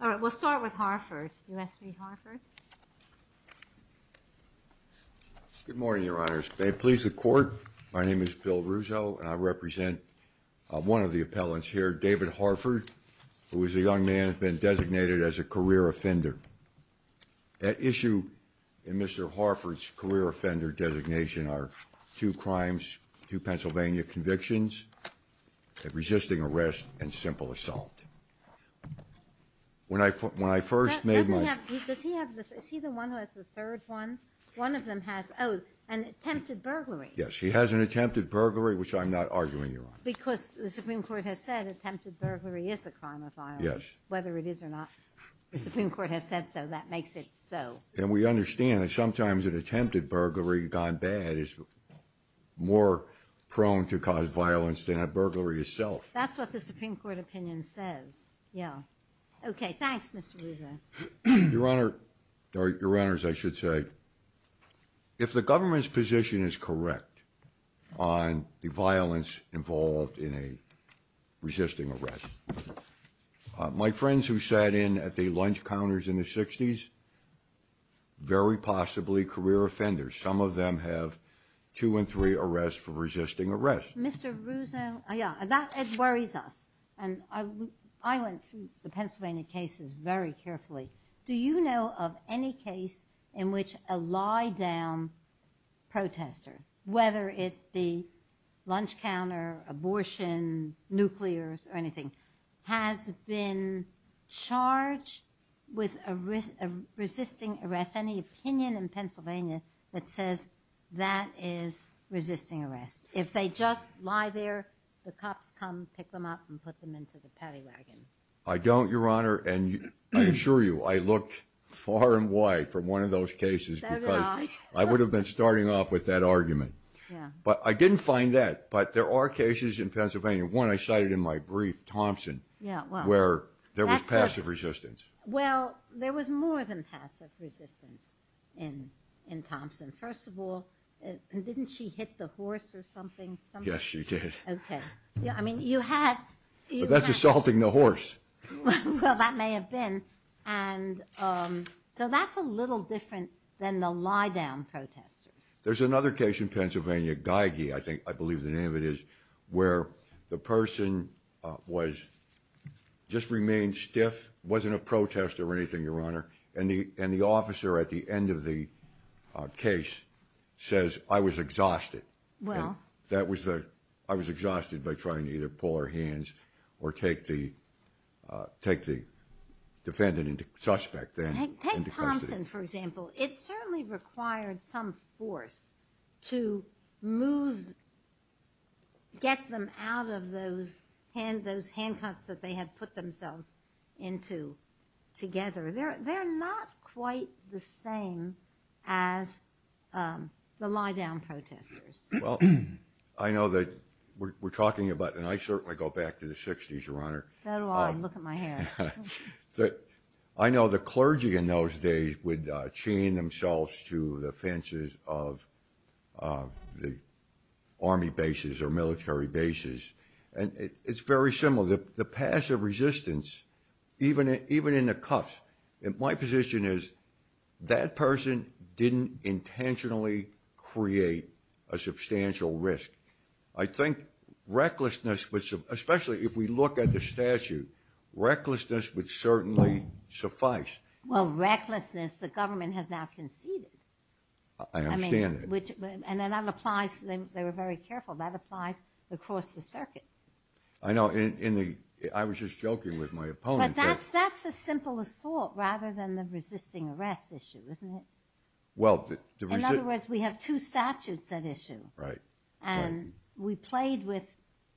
All right, we'll start with Harford. U.S. v. Harford. Good morning, Your Honors. May it please the Court, my name is Bill Russo, and I represent one of the appellants here, David Harford, who is a young man who has been designated as a career offender. At issue in Mr. Harford's career offender designation are two crimes, two Pennsylvania convictions, resisting arrest, and simple assault. When I first made my Does he have the, is he the one who has the third one? One of them has, oh, an attempted burglary. Yes, he has an attempted burglary, which I'm not arguing, Your Honor. Because the Supreme Court has said attempted burglary is a crime of violence. Yes. Whether it is or not, the Supreme Court has said so, that makes it so. And we understand that sometimes an attempted burglary gone bad is more prone to cause violence than a burglary itself. That's what the Supreme Court opinion says, yeah. Okay, thanks, Mr. Russo. Your Honor, or Your Honors, I should say, if the government's position is correct on the violence involved in a resisting arrest, my friends who sat in at the lunch counters in the 60s, very possibly career offenders. Some of them have two and three arrests for resisting arrest. Mr. Russo, yeah, that worries us. And I went through the Pennsylvania cases very carefully. Do you know of any case in which a lie-down protester, whether it be lunch counter, abortion, nuclears, or anything, has been charged with resisting arrest? Any opinion in Pennsylvania that says that is resisting arrest? If they just lie there, the cops come, pick them up, and put them into the paddy wagon. I don't, Your Honor. And I assure you, I looked far and wide for one of those cases because I would have been starting off with that argument. But I didn't find that. But there are cases in Pennsylvania, one I cited in my brief, Thompson, where there was passive resistance. Well, there was more than passive resistance in Thompson. First of all, didn't she hit the horse or something? Yes, she did. Okay. But that's assaulting the horse. Well, that may have been. So that's a little different than the lie-down protesters. There's another case in Pennsylvania, Geigy, I believe the name of it is, where the person just remained stiff, wasn't a protester or anything, Your Honor, and the officer at the end of the case says, I was exhausted. I was exhausted by trying to either pull her hands or take the defendant into suspect. Take Thompson, for example. It certainly required some force to move, get them out of those handcuffs that they had put themselves into together. They're not quite the same as the lie-down protesters. Well, I know that we're talking about, and I certainly go back to the 60s, Your Honor. So do I. Look at my hair. I know the clergy in those days would chain themselves to the fences of the Army bases or military bases. And it's very similar. The passive resistance, even in the cuffs, my position is that person didn't intentionally create a substantial risk. I think recklessness, especially if we look at the statute, recklessness would certainly suffice. Well, recklessness, the government has now conceded. I understand that. And that applies, they were very careful, that applies across the circuit. I know, I was just joking with my opponent. But that's the simple assault rather than the resisting arrest issue, isn't it? In other words, we have two statutes at issue. Right. And we played with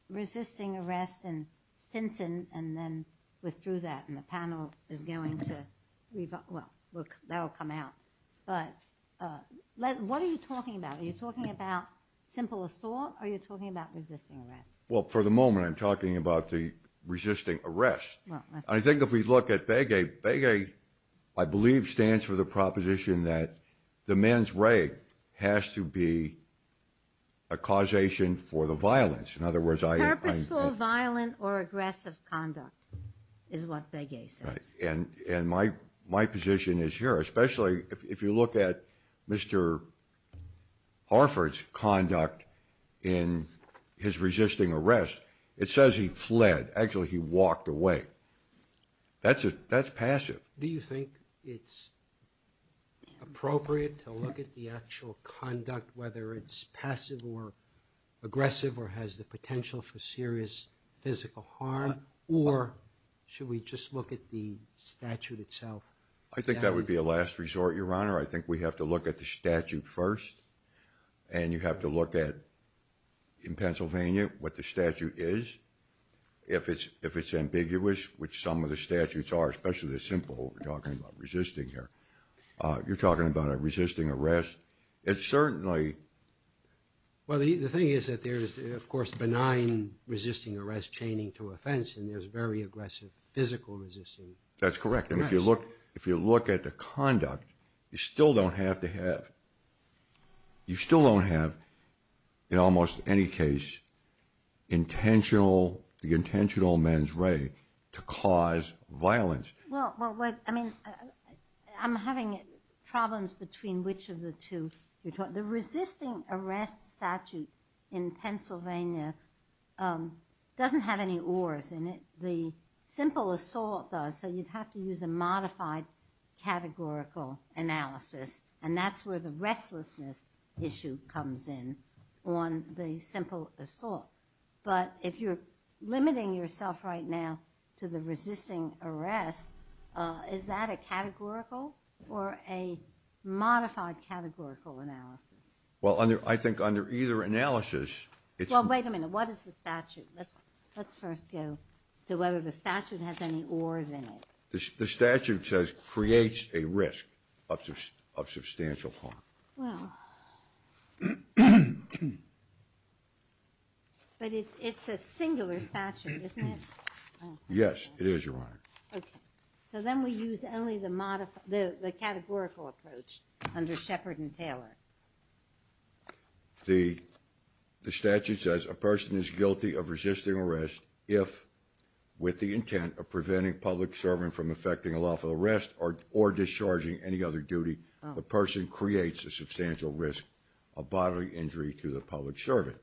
resisting arrest and sentencing and then withdrew that, and the panel is going to, well, that will come out. But what are you talking about? Are you talking about simple assault or are you talking about resisting arrest? Well, for the moment, I'm talking about the resisting arrest. I think if we look at Begay, Begay, I believe, stands for the proposition that the man's wraith has to be a causation for the violence. Purposeful, violent, or aggressive conduct is what Begay says. And my position is here, especially if you look at Mr. Harford's conduct in his resisting arrest, it says he fled. Actually, he walked away. That's passive. Do you think it's appropriate to look at the actual conduct, whether it's passive or aggressive or has the potential for serious physical harm? Or should we just look at the statute itself? I think that would be a last resort, Your Honor. I think we have to look at the statute first. And you have to look at, in Pennsylvania, what the statute is. If it's ambiguous, which some of the statutes are, especially the simple, we're talking about resisting here. You're talking about a resisting arrest. Well, the thing is that there is, of course, benign resisting arrest chaining to offense, and there's very aggressive physical resisting arrest. That's correct. And if you look at the conduct, you still don't have to have, you still don't have, in almost any case, the intentional man's wraith to cause violence. Well, I mean, I'm having problems between which of the two. The resisting arrest statute in Pennsylvania doesn't have any oars in it. The simple assault does, so you'd have to use a modified categorical analysis. And that's where the restlessness issue comes in on the simple assault. But if you're limiting yourself right now to the resisting arrest, is that a categorical or a modified categorical analysis? Well, I think under either analysis, it's... Well, wait a minute. What is the statute? Let's first go to whether the statute has any oars in it. The statute says creates a risk of substantial harm. Well, but it's a singular statute, isn't it? Yes, it is, Your Honor. Okay. So then we use only the categorical approach under Shepard and Taylor. The statute says a person is guilty of resisting arrest if, with the intent of preventing public servant from effecting a lawful arrest or discharging any other duty, the person creates a substantial risk of bodily injury to the public servant.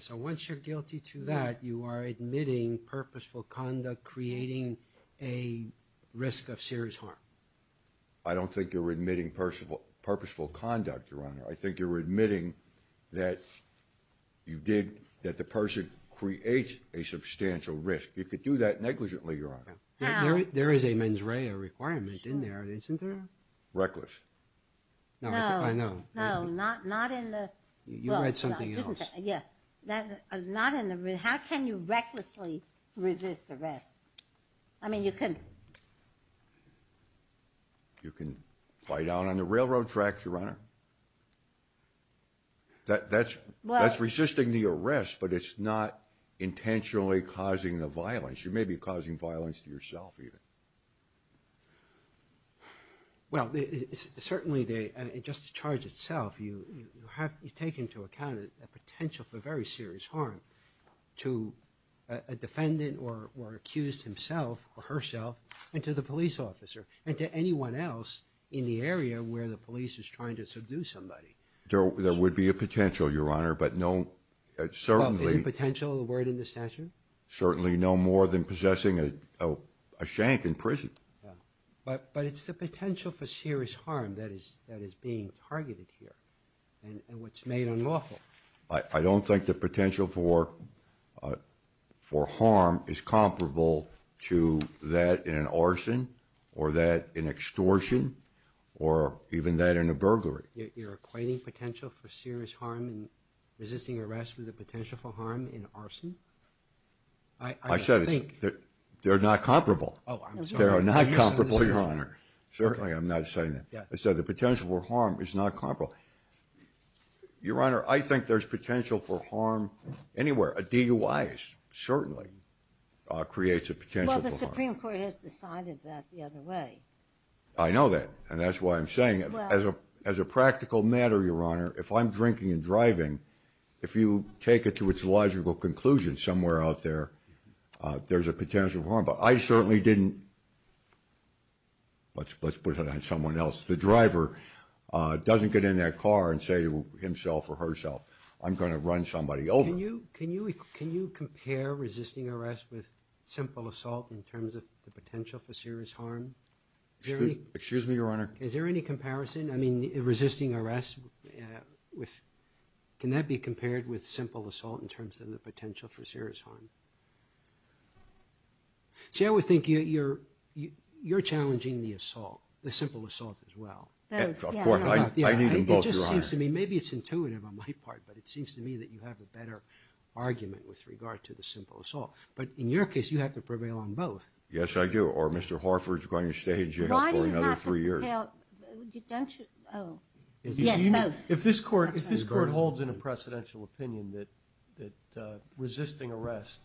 So once you're guilty to that, you are admitting purposeful conduct creating a risk of serious harm. I don't think you're admitting purposeful conduct, Your Honor. I think you're admitting that you did, that the person creates a substantial risk. There is a mens rea requirement in there, isn't there? Reckless. No. I know. No, not in the... You read something else. Yeah. Not in the... How can you recklessly resist arrest? I mean, you can... You can lie down on the railroad tracks, Your Honor. That's resisting the arrest, but it's not intentionally causing the violence. You may be causing violence to yourself, even. Well, certainly, just the charge itself, you take into account a potential for very serious harm to a defendant or accused himself or herself and to the police officer and to anyone else in the area where the police is trying to subdue somebody. There would be a potential, Your Honor, but no... Well, is the potential a word in the statute? Certainly no more than possessing a shank in prison. But it's the potential for serious harm that is being targeted here and what's made unlawful. I don't think the potential for harm is comparable to that in an arson or that in extortion or even that in a burglary. You're equating potential for serious harm and resisting arrest with the potential for harm in arson? I said they're not comparable. They're not comparable, Your Honor. Certainly, I'm not saying that. I said the potential for harm is not comparable. Your Honor, I think there's potential for harm anywhere. A DUI certainly creates a potential for harm. Well, the Supreme Court has decided that the other way. I know that, and that's why I'm saying it. As a practical matter, Your Honor, if I'm drinking and driving, if you take it to its logical conclusion, somewhere out there, there's a potential for harm. But I certainly didn't... Let's put it on someone else. The driver doesn't get in that car and say to himself or herself, I'm going to run somebody over. Can you compare resisting arrest with simple assault in terms of the potential for serious harm? Excuse me, Your Honor? Is there any comparison? I mean, resisting arrest, can that be compared with simple assault in terms of the potential for serious harm? See, I would think you're challenging the assault, the simple assault as well. Of course. I need them both, Your Honor. It just seems to me, maybe it's intuitive on my part, but it seems to me that you have a better argument with regard to the simple assault. But in your case, you have to prevail on both. Yes, I do. Or Mr. Harford's going to stay in jail for another three years. Why do you have to prevail? Don't you? Oh. Yes, both. If this Court holds in a precedential opinion that resisting arrest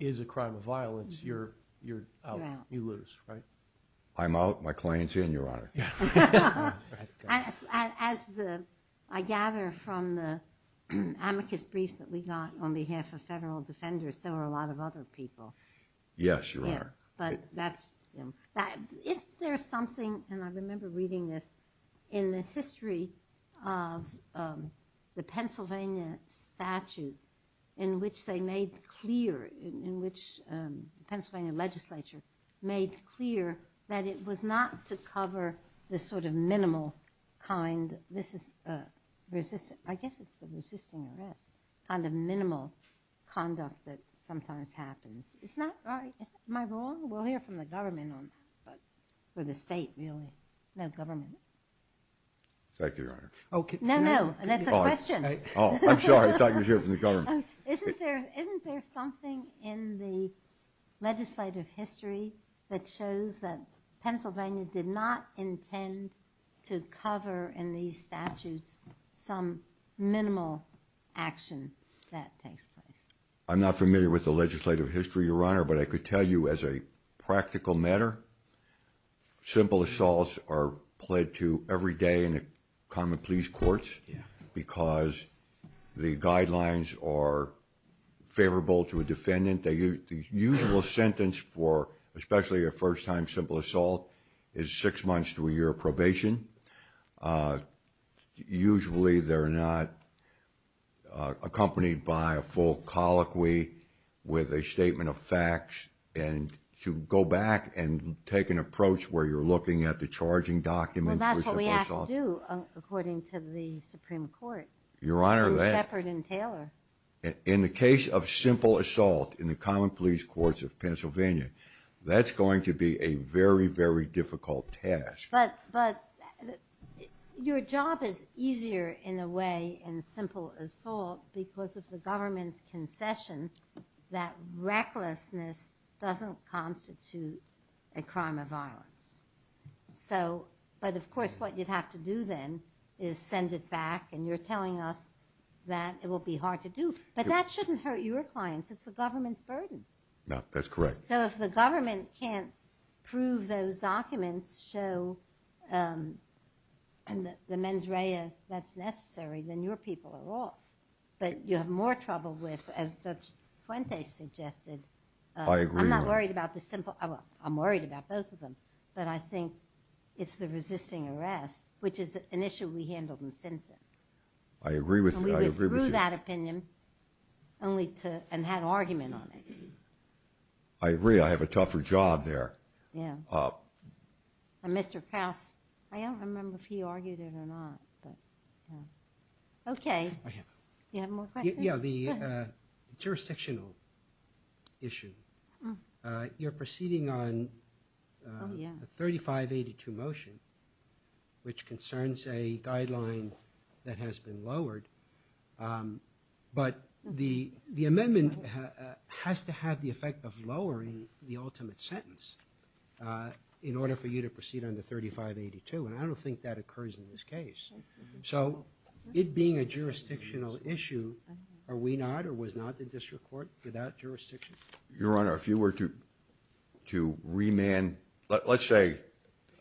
is a crime of violence, you're out. You're out. You lose, right? I'm out. My client's in, Your Honor. As I gather from the amicus briefs that we got on behalf of federal defenders, so are a lot of other people. Yes, Your Honor. But that's, you know, isn't there something, and I remember reading this, in the history of the Pennsylvania statute in which they made clear, in which the Pennsylvania legislature made clear that it was not to cover this sort of minimal kind, I guess it's the resisting arrest, kind of minimal conduct that sometimes happens. Is that right? Am I wrong? We'll hear from the government on that. Or the state, really. No, government. Thank you, Your Honor. No, no. That's a question. Oh, I'm sorry. I thought you were here from the government. Isn't there something in the legislative history that shows that Pennsylvania did not intend to cover in these statutes some minimal action that takes place? I'm not familiar with the legislative history, Your Honor, but I could tell you as a practical matter, simple assaults are pled to every day in the common police courts because the guidelines are favorable to a defendant. The usual sentence for, especially a first-time simple assault, is six months to a year probation. Usually they're not accompanied by a full colloquy with a statement of facts. And to go back and take an approach where you're looking at the charging documents for simple assaults. Well, that's what we have to do, according to the Supreme Court. Your Honor, that… And Shepard and Taylor. In the case of simple assault in the common police courts of Pennsylvania, that's going to be a very, very difficult task. But your job is easier in a way in simple assault because of the government's concession that recklessness doesn't constitute a crime of violence. So, but of course what you'd have to do then is send it back, and you're telling us that it will be hard to do. But that shouldn't hurt your clients. It's the government's burden. No, that's correct. So if the government can't prove those documents show the mens rea that's necessary, then your people are off. But you have more trouble with, as Judge Fuentes suggested. I agree. I'm not worried about the simple. I'm worried about both of them. But I think it's the resisting arrest, which is an issue we handled in Stinson. I agree with you. And we went through that opinion and had an argument on it. I agree. I have a tougher job there. Mr. Krauss, I don't remember if he argued it or not. Okay. Do you have more questions? Yeah, the jurisdictional issue. You're proceeding on the 3582 motion, which concerns a guideline that has been lowered. But the amendment has to have the effect of lowering the ultimate sentence in order for you to proceed on the 3582. And I don't think that occurs in this case. So it being a jurisdictional issue, are we not or was not the district court without jurisdiction? Your Honor, if you were to remand, let's say.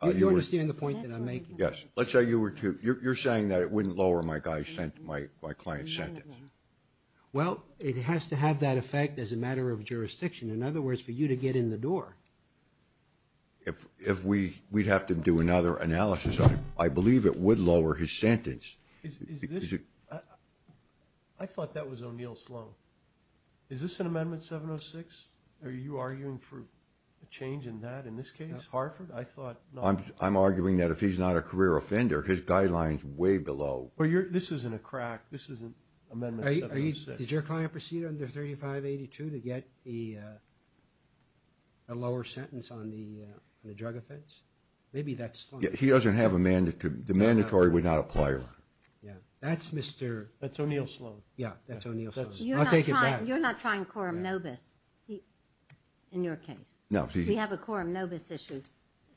You understand the point that I'm making? Yes. Let's say you were to. You're saying that it wouldn't lower my client's sentence. Well, it has to have that effect as a matter of jurisdiction. In other words, for you to get in the door. If we'd have to do another analysis on it, I believe it would lower his sentence. I thought that was O'Neill Sloan. Is this an amendment 706? Are you arguing for a change in that in this case, Hartford? I'm arguing that if he's not a career offender, his guideline is way below. This isn't a crack. This isn't amendment 706. Did your client proceed under 3582 to get a lower sentence on the drug offense? Maybe that's Sloan. He doesn't have a mandatory. The mandatory would not apply, Your Honor. That's Mr. That's O'Neill Sloan. Yeah, that's O'Neill Sloan. I'll take it back. You're not trying quorum nobis in your case. We have a quorum nobis issue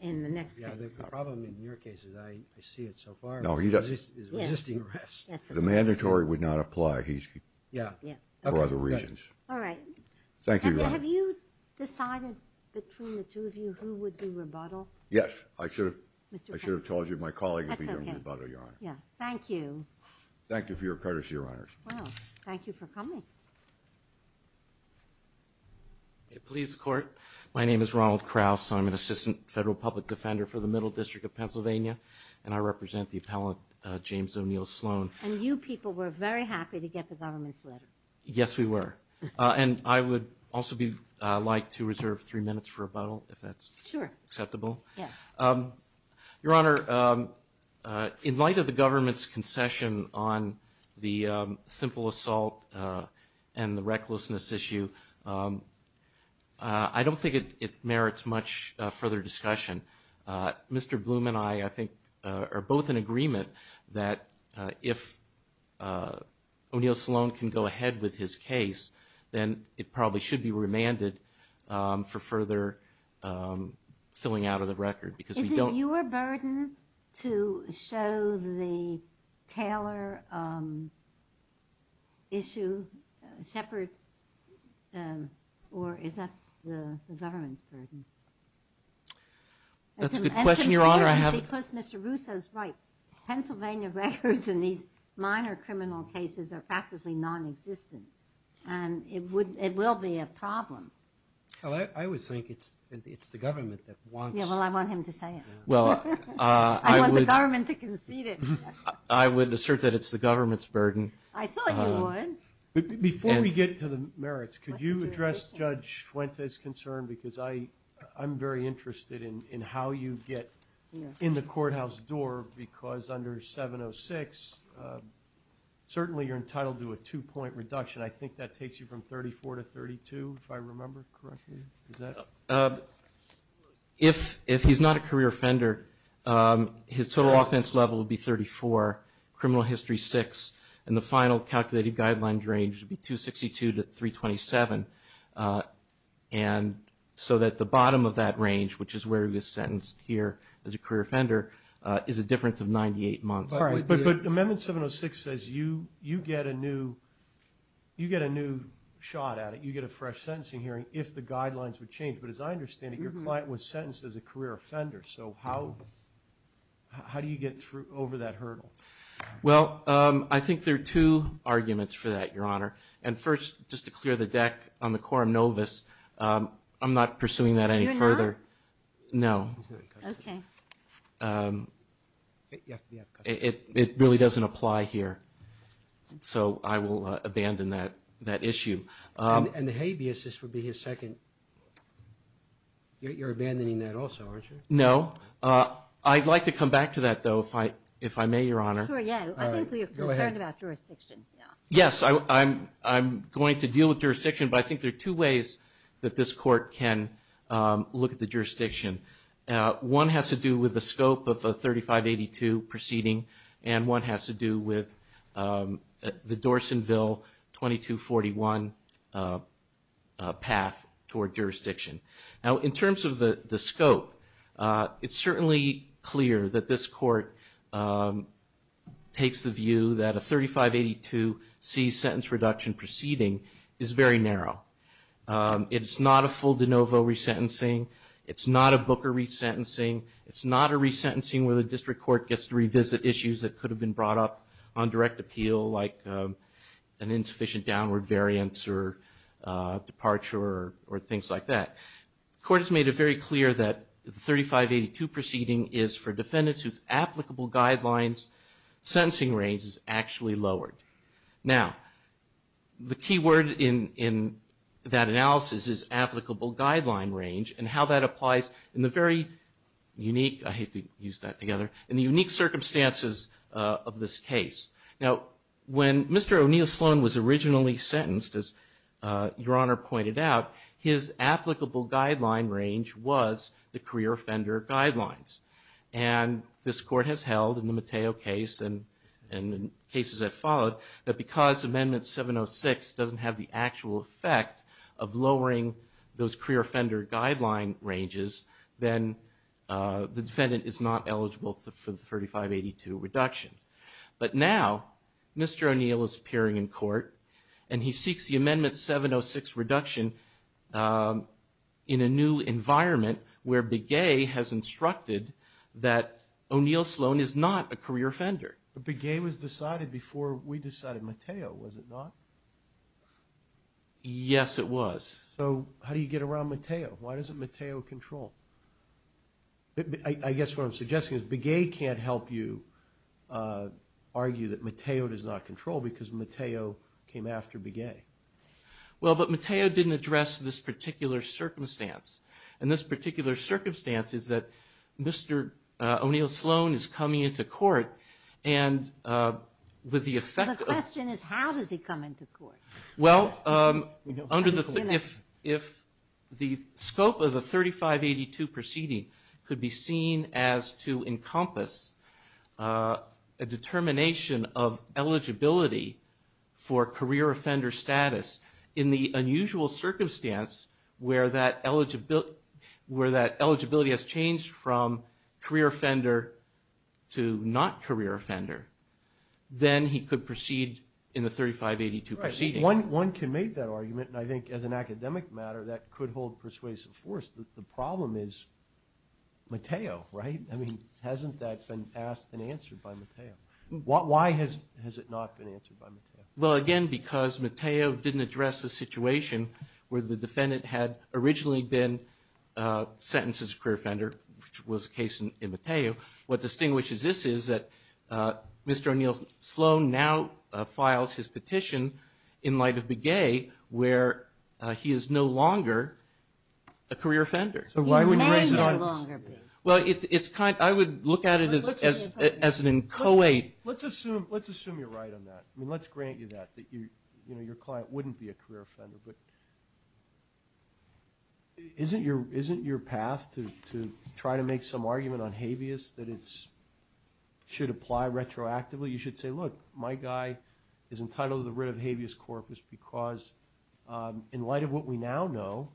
in the next case. The problem in your case is I see it so far as resisting arrest. The mandatory would not apply. He's for other reasons. All right. Thank you, Your Honor. Have you decided between the two of you who would do rebuttal? Yes. I should have told you my colleague would be doing rebuttal, Your Honor. Thank you. Thank you for your courtesy, Your Honors. Well, thank you for coming. Police Court. My name is Ronald Krause. I'm an assistant federal public defender for the Middle District of Pennsylvania, and I represent the appellant James O'Neill Sloan. And you people were very happy to get the government's letter. Yes, we were. And I would also like to reserve three minutes for rebuttal, if that's acceptable. Sure. Yes. Your Honor, in light of the government's concession on the simple assault and the recklessness issue, I don't think it merits much further discussion. Mr. Bloom and I, I think, are both in agreement that if O'Neill Sloan can go ahead with his case, then it probably should be remanded for further filling out of the record. Is it your burden to show the Taylor issue, Shepard, or is that the government's burden? That's a good question, Your Honor. Because Mr. Russo's right. Pennsylvania records in these minor criminal cases are practically nonexistent, and it will be a problem. Well, I would think it's the government that wants it. Yeah, well, I want him to say it. I want the government to concede it. I would assert that it's the government's burden. I thought you would. Before we get to the merits, could you address Judge Fuente's concern? Because I'm very interested in how you get in the courthouse door because under 706, certainly you're entitled to a two-point reduction. I think that takes you from 34 to 32, if I remember correctly. If he's not a career offender, his total offense level would be 34, criminal history 6, and the final calculated guidelines range would be 262 to 327. And so that the bottom of that range, which is where he was sentenced here as a career offender, is a difference of 98 months. But Amendment 706 says you get a new shot at it, you get a fresh sentencing hearing, if the guidelines would change. But as I understand it, your client was sentenced as a career offender. So how do you get over that hurdle? Well, I think there are two arguments for that, Your Honor. And first, just to clear the deck on the quorum novus, I'm not pursuing that any further. You're not? No. Okay. It really doesn't apply here. So I will abandon that issue. And the habeas, this would be his second. You're abandoning that also, aren't you? No. I'd like to come back to that, though, if I may, Your Honor. Sure, yeah. I think we are concerned about jurisdiction. Yes, I'm going to deal with jurisdiction, but I think there are two ways that this Court can look at the jurisdiction. One has to do with the scope of the 3582 proceeding, and one has to do with the Dorsonville 2241 path toward jurisdiction. Now, in terms of the scope, it's certainly clear that this Court takes the view that a 3582 C sentence reduction proceeding is very narrow. It's not a full de novo resentencing. It's not a Booker resentencing. It's not a resentencing where the district court gets to revisit issues that could have been brought up on direct appeal, like an insufficient downward variance or departure or things like that. The Court has made it very clear that the 3582 proceeding is for defendants whose applicable guidelines sentencing range is actually lowered. Now, the key word in that analysis is applicable guideline range and how that applies in the very unique circumstances of this case. Now, when Mr. O'Neill Sloan was originally sentenced, as Your Honor pointed out, his applicable guideline range was the career offender guidelines. And this Court has held in the Mateo case and in cases that followed that because Amendment 706 doesn't have the actual effect of lowering those career offender guideline ranges, then the defendant is not eligible for the 3582 reduction. But now, Mr. O'Neill is appearing in court, and he seeks the Amendment 706 reduction in a new environment where Begay has instructed that O'Neill Sloan is not a career offender. But Begay was decided before we decided Mateo, was it not? Yes, it was. So how do you get around Mateo? Why doesn't Mateo control? I guess what I'm suggesting is Begay can't help you argue that Mateo does not control because Mateo came after Begay. Well, but Mateo didn't address this particular circumstance. And this particular circumstance is that Mr. O'Neill Sloan is coming into court and with the effect of – The question is how does he come into court? Well, if the scope of the 3582 proceeding could be seen as to encompass a determination of eligibility for career offender status in the unusual circumstance where that eligibility has changed from career offender to not career offender, then he could proceed in the 3582 proceeding. Right. One can make that argument, and I think as an academic matter that could hold persuasive force. The problem is Mateo, right? I mean, hasn't that been asked and answered by Mateo? Why has it not been answered by Mateo? Well, again, because Mateo didn't address the situation where the defendant had originally been sentenced as a career offender, which was the case in Mateo. What distinguishes this is that Mr. O'Neill Sloan now files his petition in light of Begay where he is no longer a career offender. So why would he raise it? Well, I would look at it as an inchoate. Let's assume you're right on that. I mean, let's grant you that, that your client wouldn't be a career offender. But isn't your path to try to make some argument on habeas that it should apply retroactively? You should say, look, my guy is entitled to the writ of habeas corpus because in light of what we now know,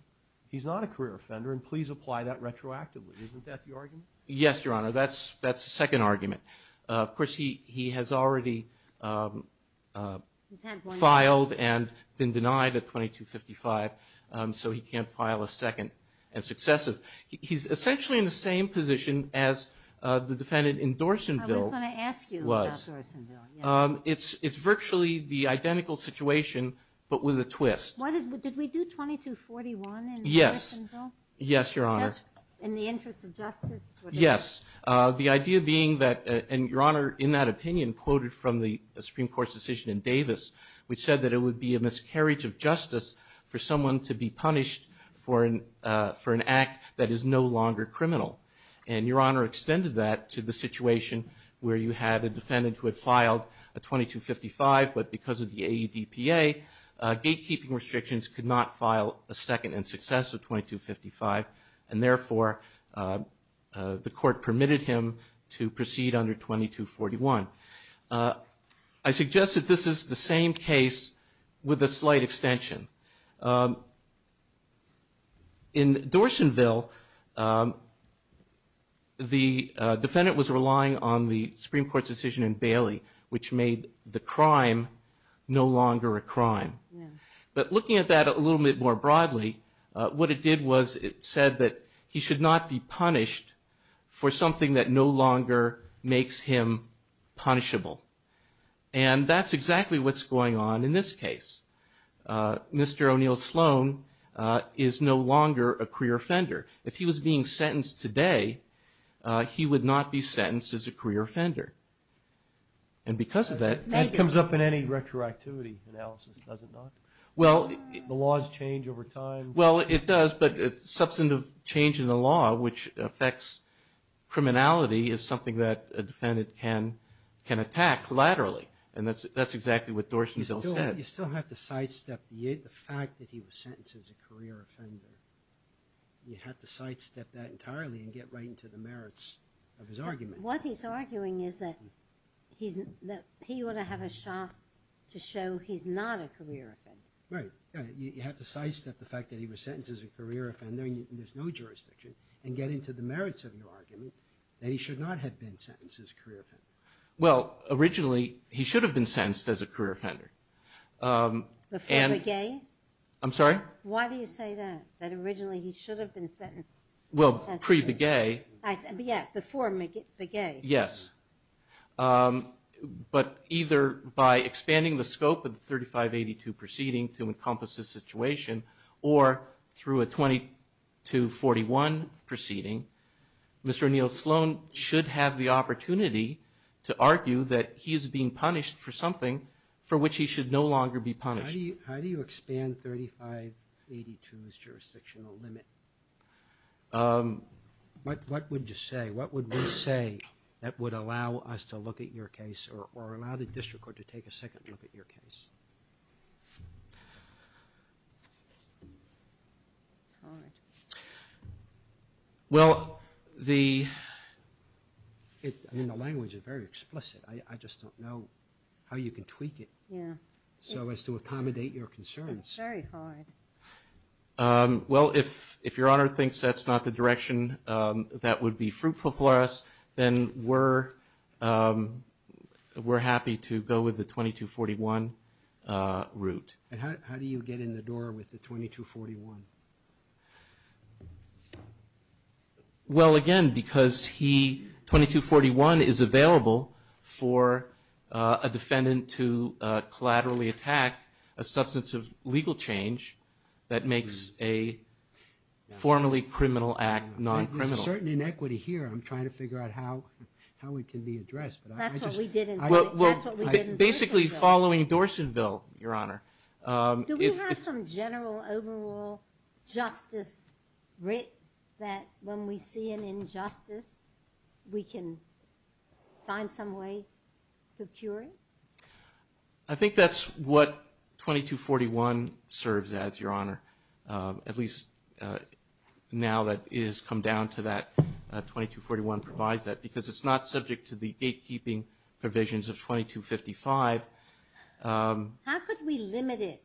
he's not a career offender, and please apply that retroactively. Isn't that the argument? Yes, Your Honor. That's the second argument. Of course, he has already filed and been denied a 2255, so he can't file a second and successive. He's essentially in the same position as the defendant in Dorsonville was. I was going to ask you about Dorsonville. It's virtually the identical situation but with a twist. Did we do 2241 in Dorsonville? Yes, Your Honor. In the interest of justice? Yes. The idea being that, and Your Honor, in that opinion quoted from the Supreme Court's decision in Davis, which said that it would be a miscarriage of justice for someone to be punished for an act that is no longer criminal. And Your Honor extended that to the situation where you had a defendant who had filed a 2255, but because of the AEDPA, gatekeeping restrictions could not file a second and successive 2255, and therefore the court permitted him to proceed under 2241. I suggest that this is the same case with a slight extension. In Dorsonville, the defendant was relying on the Supreme Court's decision in Bailey, which made the crime no longer a crime. But looking at that a little bit more broadly, what it did was it said that he should not be punished for something that no longer makes him punishable. And that's exactly what's going on in this case. Mr. O'Neill Sloan is no longer a career offender. If he was being sentenced today, he would not be sentenced as a career offender. And because of that, that comes up in any retroactivity analysis, does it not? The laws change over time. Well, it does, but substantive change in the law, which affects criminality, is something that a defendant can attack laterally. And that's exactly what Dorsonville said. You still have to sidestep the fact that he was sentenced as a career offender. You have to sidestep that entirely and get right into the merits of his argument. What he's arguing is that he ought to have a shot to show he's not a career offender. Right. You have to sidestep the fact that he was sentenced as a career offender, and there's no jurisdiction, and get into the merits of your argument that he should not have been sentenced as a career offender. Well, originally, he should have been sentenced as a career offender. Before Begay? I'm sorry? Why do you say that, that originally he should have been sentenced? Well, pre-Begay. Yeah, before Begay. Yes. But either by expanding the scope of the 3582 proceeding to encompass this situation or through a 2241 proceeding, Mr. O'Neill Sloan should have the opportunity to argue that he is being punished for something for which he should no longer be punished. How do you expand 3582's jurisdictional limit? What would you say? What would we say that would allow us to look at your case or allow the district court to take a second look at your case? It's hard. Well, the language is very explicit. I just don't know how you can tweak it so as to accommodate your concerns. It's very hard. Well, if your Honor thinks that's not the direction that would be fruitful for us, then we're happy to go with the 2241 route. How do you get in the door with the 2241? Well, again, because 2241 is available for a defendant to collaterally attack a substance of legal change that makes a formerly criminal act non-criminal. There's a certain inequity here. I'm trying to figure out how it can be addressed. That's what we did in Dorsonville. Basically following Dorsonville, Your Honor. Do we have some general overall justice writ that when we see an injustice, we can find some way to cure it? I think that's what 2241 serves as, Your Honor. At least now that it has come down to that, 2241 provides that because it's not subject to the gatekeeping provisions of 2255. How could we limit it?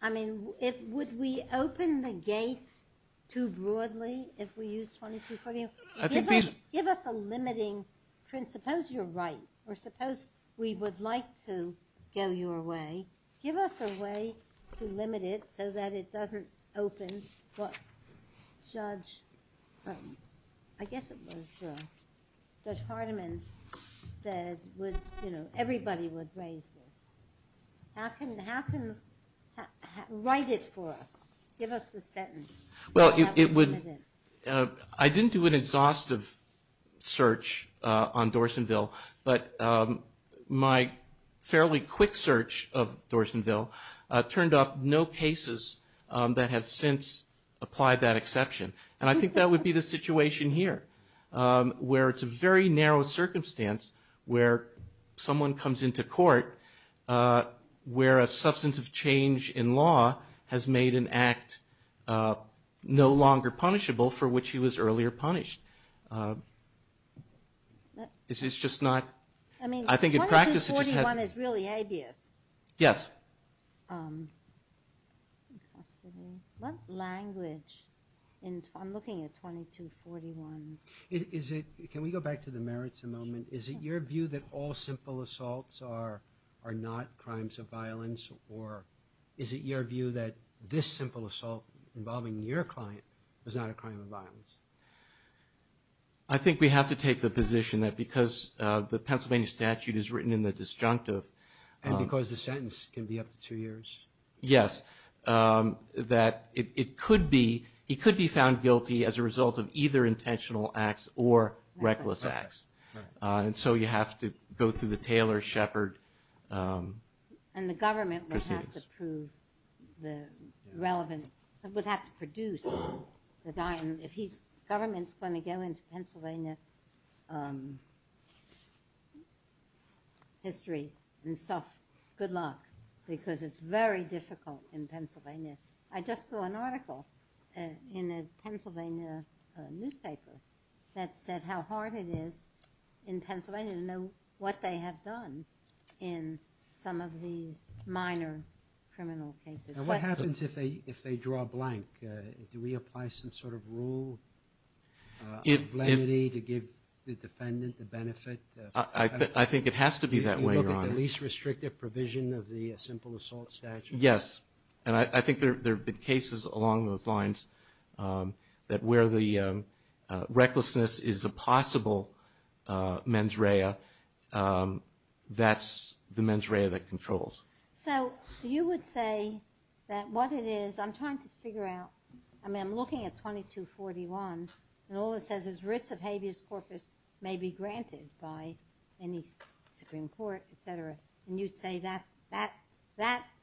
I mean, would we open the gates too broadly if we used 2241? Give us a limiting principle. Suppose you're right or suppose we would like to go your way. Give us a way to limit it so that it doesn't open what Judge, I guess it was Judge Hardiman said, you know, everybody would raise this. How can you write it for us? Give us the sentence. Well, I didn't do an exhaustive search on Dorsonville, but my fairly quick search of Dorsonville turned up no cases that have since applied that exception. And I think that would be the situation here where it's a very narrow circumstance where someone comes into court where a substantive change in law has made an act no longer punishable for which he was earlier punished. It's just not, I think in practice it just has. I mean, 2241 is really habeas. Yes. What language in, I'm looking at 2241. Can we go back to the merits a moment? Sure. Is it your view that all simple assaults are not crimes of violence or is it your view that this simple assault involving your client was not a crime of violence? I think we have to take the position that because the Pennsylvania statute is written in the disjunctive. And because the sentence can be up to two years. Yes, that it could be found guilty as a result of either intentional acts or reckless acts. And so you have to go through the Taylor, Shepard. And the government would have to prove the relevant, would have to produce the diamond. If government's going to go into Pennsylvania history and stuff, good luck. Because it's very difficult in Pennsylvania. I just saw an article in a Pennsylvania newspaper that said how hard it is in Pennsylvania to know what they have done in some of these minor criminal cases. What happens if they draw a blank? Do we apply some sort of rule of lenity to give the defendant the benefit? I think it has to be that way, Your Honor. Do you look at the least restrictive provision of the simple assault statute? Yes. And I think there have been cases along those lines that where the recklessness is a possible mens rea, that's the mens rea that controls. So you would say that what it is, I'm trying to figure out, I mean, I'm looking at 2241 and all it says is writs of habeas corpus may be granted by any Supreme Court, et cetera. And you'd say that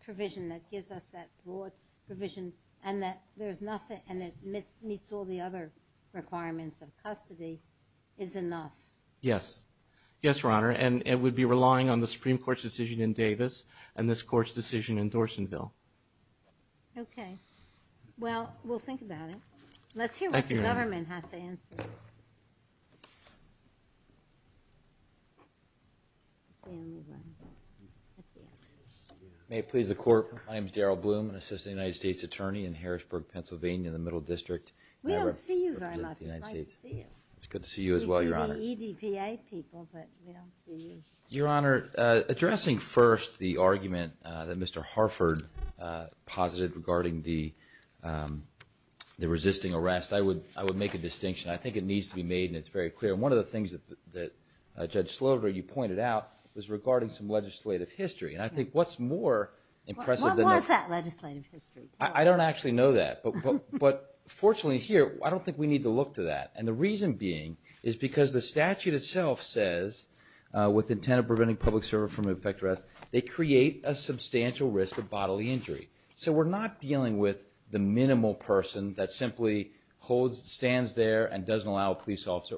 provision that gives us that broad provision and that meets all the other requirements of custody is enough? Yes. Yes, Your Honor. And it would be relying on the Supreme Court's decision in Davis and this Court's decision in Dorsonville. Okay. Well, we'll think about it. Thank you, Your Honor. That's the only one. That's the only one. May it please the Court, my name is Darrell Bloom, an Assistant United States Attorney in Harrisburg, Pennsylvania, in the Middle District. We don't see you very much. It's nice to see you. It's good to see you as well, Your Honor. We see the EDPA people, but we don't see you. Your Honor, addressing first the argument that Mr. Harford posited regarding the resisting arrest, I would make a distinction. I think it needs to be made and it's very clear. One of the things that Judge Slover, you pointed out, was regarding some legislative history. And I think what's more impressive than that. What was that legislative history? I don't actually know that. But fortunately here, I don't think we need to look to that. And the reason being is because the statute itself says, with intent of preventing public service from an effect of arrest, they create a substantial risk of bodily injury. So we're not dealing with the minimal person that simply holds, stands there and doesn't allow a police officer.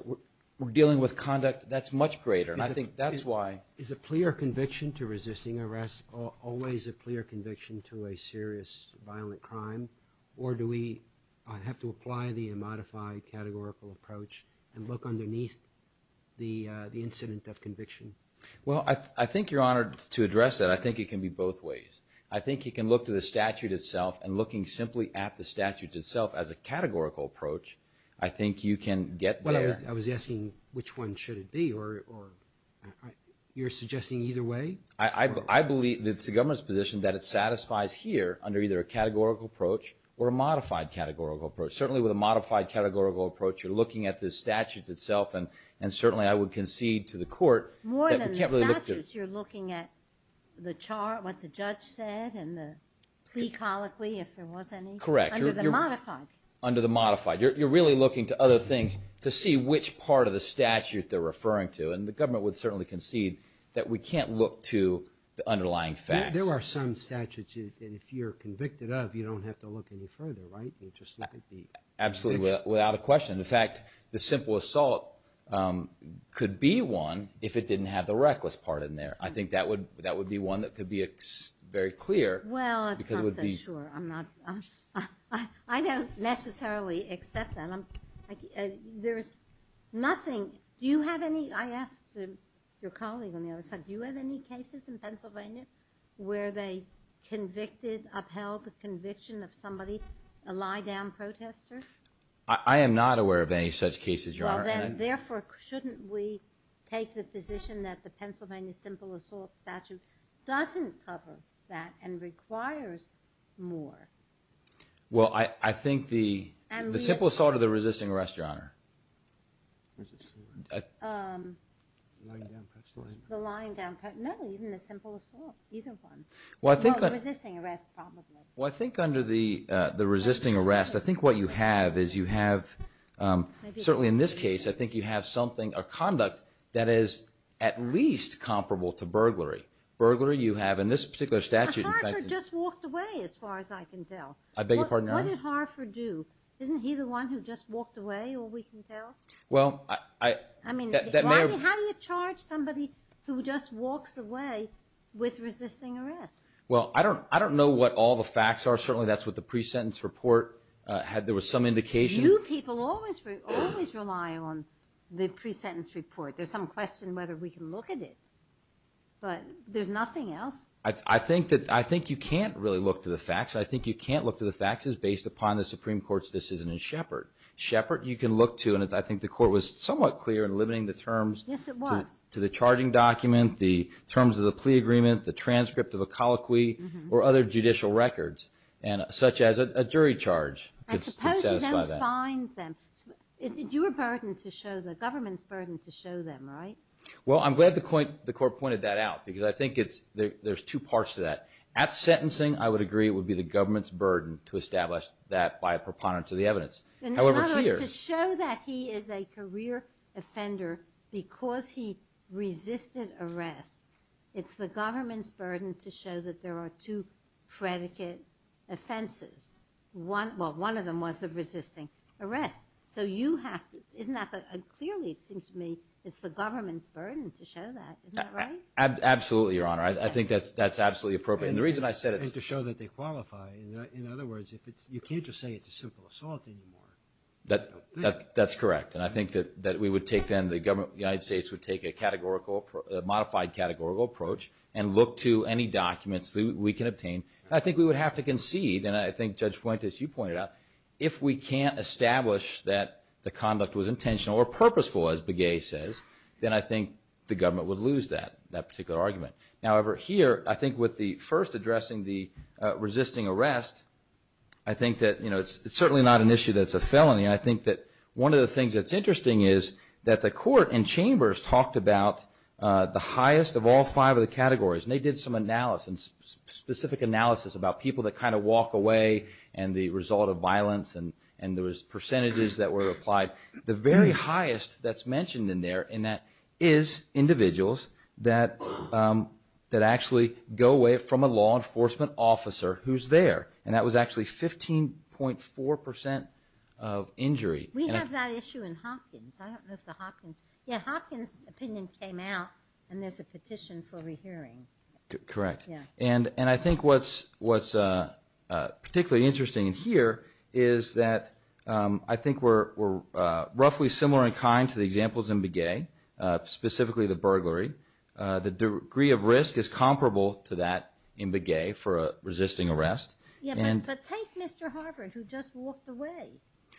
We're dealing with conduct that's much greater. And I think that's why. Is a clear conviction to resisting arrest always a clear conviction to a serious violent crime? Or do we have to apply the modified categorical approach and look underneath the incident of conviction? Well, I think you're honored to address that. I think it can be both ways. I think you can look to the statute itself and looking simply at the statute itself as a categorical approach, I think you can get there. I was asking which one should it be. You're suggesting either way? I believe that it's the government's position that it satisfies here under either a categorical approach or a modified categorical approach. Certainly with a modified categorical approach, you're looking at the statute itself. And certainly I would concede to the court that we can't really look to. More than the statutes, you're looking at the chart, what the judge said, and the plea colloquy, if there was any. Correct. Under the modified. Under the modified. You're really looking to other things to see which part of the statute they're referring to. And the government would certainly concede that we can't look to the underlying facts. There are some statutes that if you're convicted of, you don't have to look any further, right? Absolutely, without a question. In fact, the simple assault could be one if it didn't have the reckless part in there. I think that would be one that could be very clear. Well, it's not so sure. I don't necessarily accept that. There's nothing. Do you have any? I asked your colleague on the other side. Do you have any cases in Pennsylvania where they convicted, upheld the conviction of somebody, a lie-down protester? I am not aware of any such cases, Your Honor. Well, then, therefore, shouldn't we take the position that the Pennsylvania simple assault statute doesn't cover that and requires more? Well, I think the simple assault or the resisting arrest, Your Honor? Resisting arrest. The lie-down protester. The lie-down protester. No, even the simple assault, either one. Well, resisting arrest probably. Well, I think under the resisting arrest, I think what you have is you have, certainly in this case, I think you have something, a conduct, that is at least comparable to burglary. Burglary, you have in this particular statute. Now, Harford just walked away, as far as I can tell. I beg your pardon, Your Honor? What did Harford do? Isn't he the one who just walked away, all we can tell? Well, that may have. I mean, how do you charge somebody who just walks away with resisting arrest? Well, I don't know what all the facts are. Certainly that's what the pre-sentence report had. There was some indication. You people always rely on the pre-sentence report. There's some question whether we can look at it. But there's nothing else. I think you can't really look to the facts. I think you can't look to the facts. It's based upon the Supreme Court's decision in Shepard. Shepard you can look to, and I think the Court was somewhat clear in limiting the terms to the charging document, the terms of the plea agreement, the transcript of a colloquy, or other judicial records, such as a jury charge. I suppose you don't find them. It's your burden to show, the government's burden to show them, right? Well, I'm glad the Court pointed that out because I think there's two parts to that. At sentencing, I would agree it would be the government's burden to establish that by a preponderance of the evidence. In other words, to show that he is a career offender because he resisted arrest, it's the government's burden to show that there are two predicate offenses. Well, one of them was the resisting arrest. So you have to, clearly it seems to me it's the government's burden to show that. Isn't that right? Absolutely, Your Honor. I think that's absolutely appropriate. And to show that they qualify. In other words, you can't just say it's a simple assault anymore. That's correct. And I think that we would take then the government, the United States, would take a modified categorical approach and look to any documents we can obtain. And I think we would have to concede, and I think Judge Fuentes, you pointed out, if we can't establish that the conduct was intentional or purposeful, as Begay says, then I think the government would lose that particular argument. However, here, I think with the first addressing the resisting arrest, I think that it's certainly not an issue that's a felony. And I think that one of the things that's interesting is that the court and chambers talked about the highest of all five of the categories. And they did some analysis, specific analysis, about people that kind of walk away and the result of violence and those percentages that were applied. The very highest that's mentioned in there is individuals that actually go away from a law enforcement officer who's there. And that was actually 15.4% of injury. We have that issue in Hopkins. I don't know if the Hopkins. Yeah, Hopkins opinion came out, and there's a petition for rehearing. Correct. Yeah. And I think what's particularly interesting here is that I think we're roughly similar in kind to the examples in Begay, specifically the burglary. The degree of risk is comparable to that in Begay for a resisting arrest. Yeah, but take Mr. Harvard who just walked away.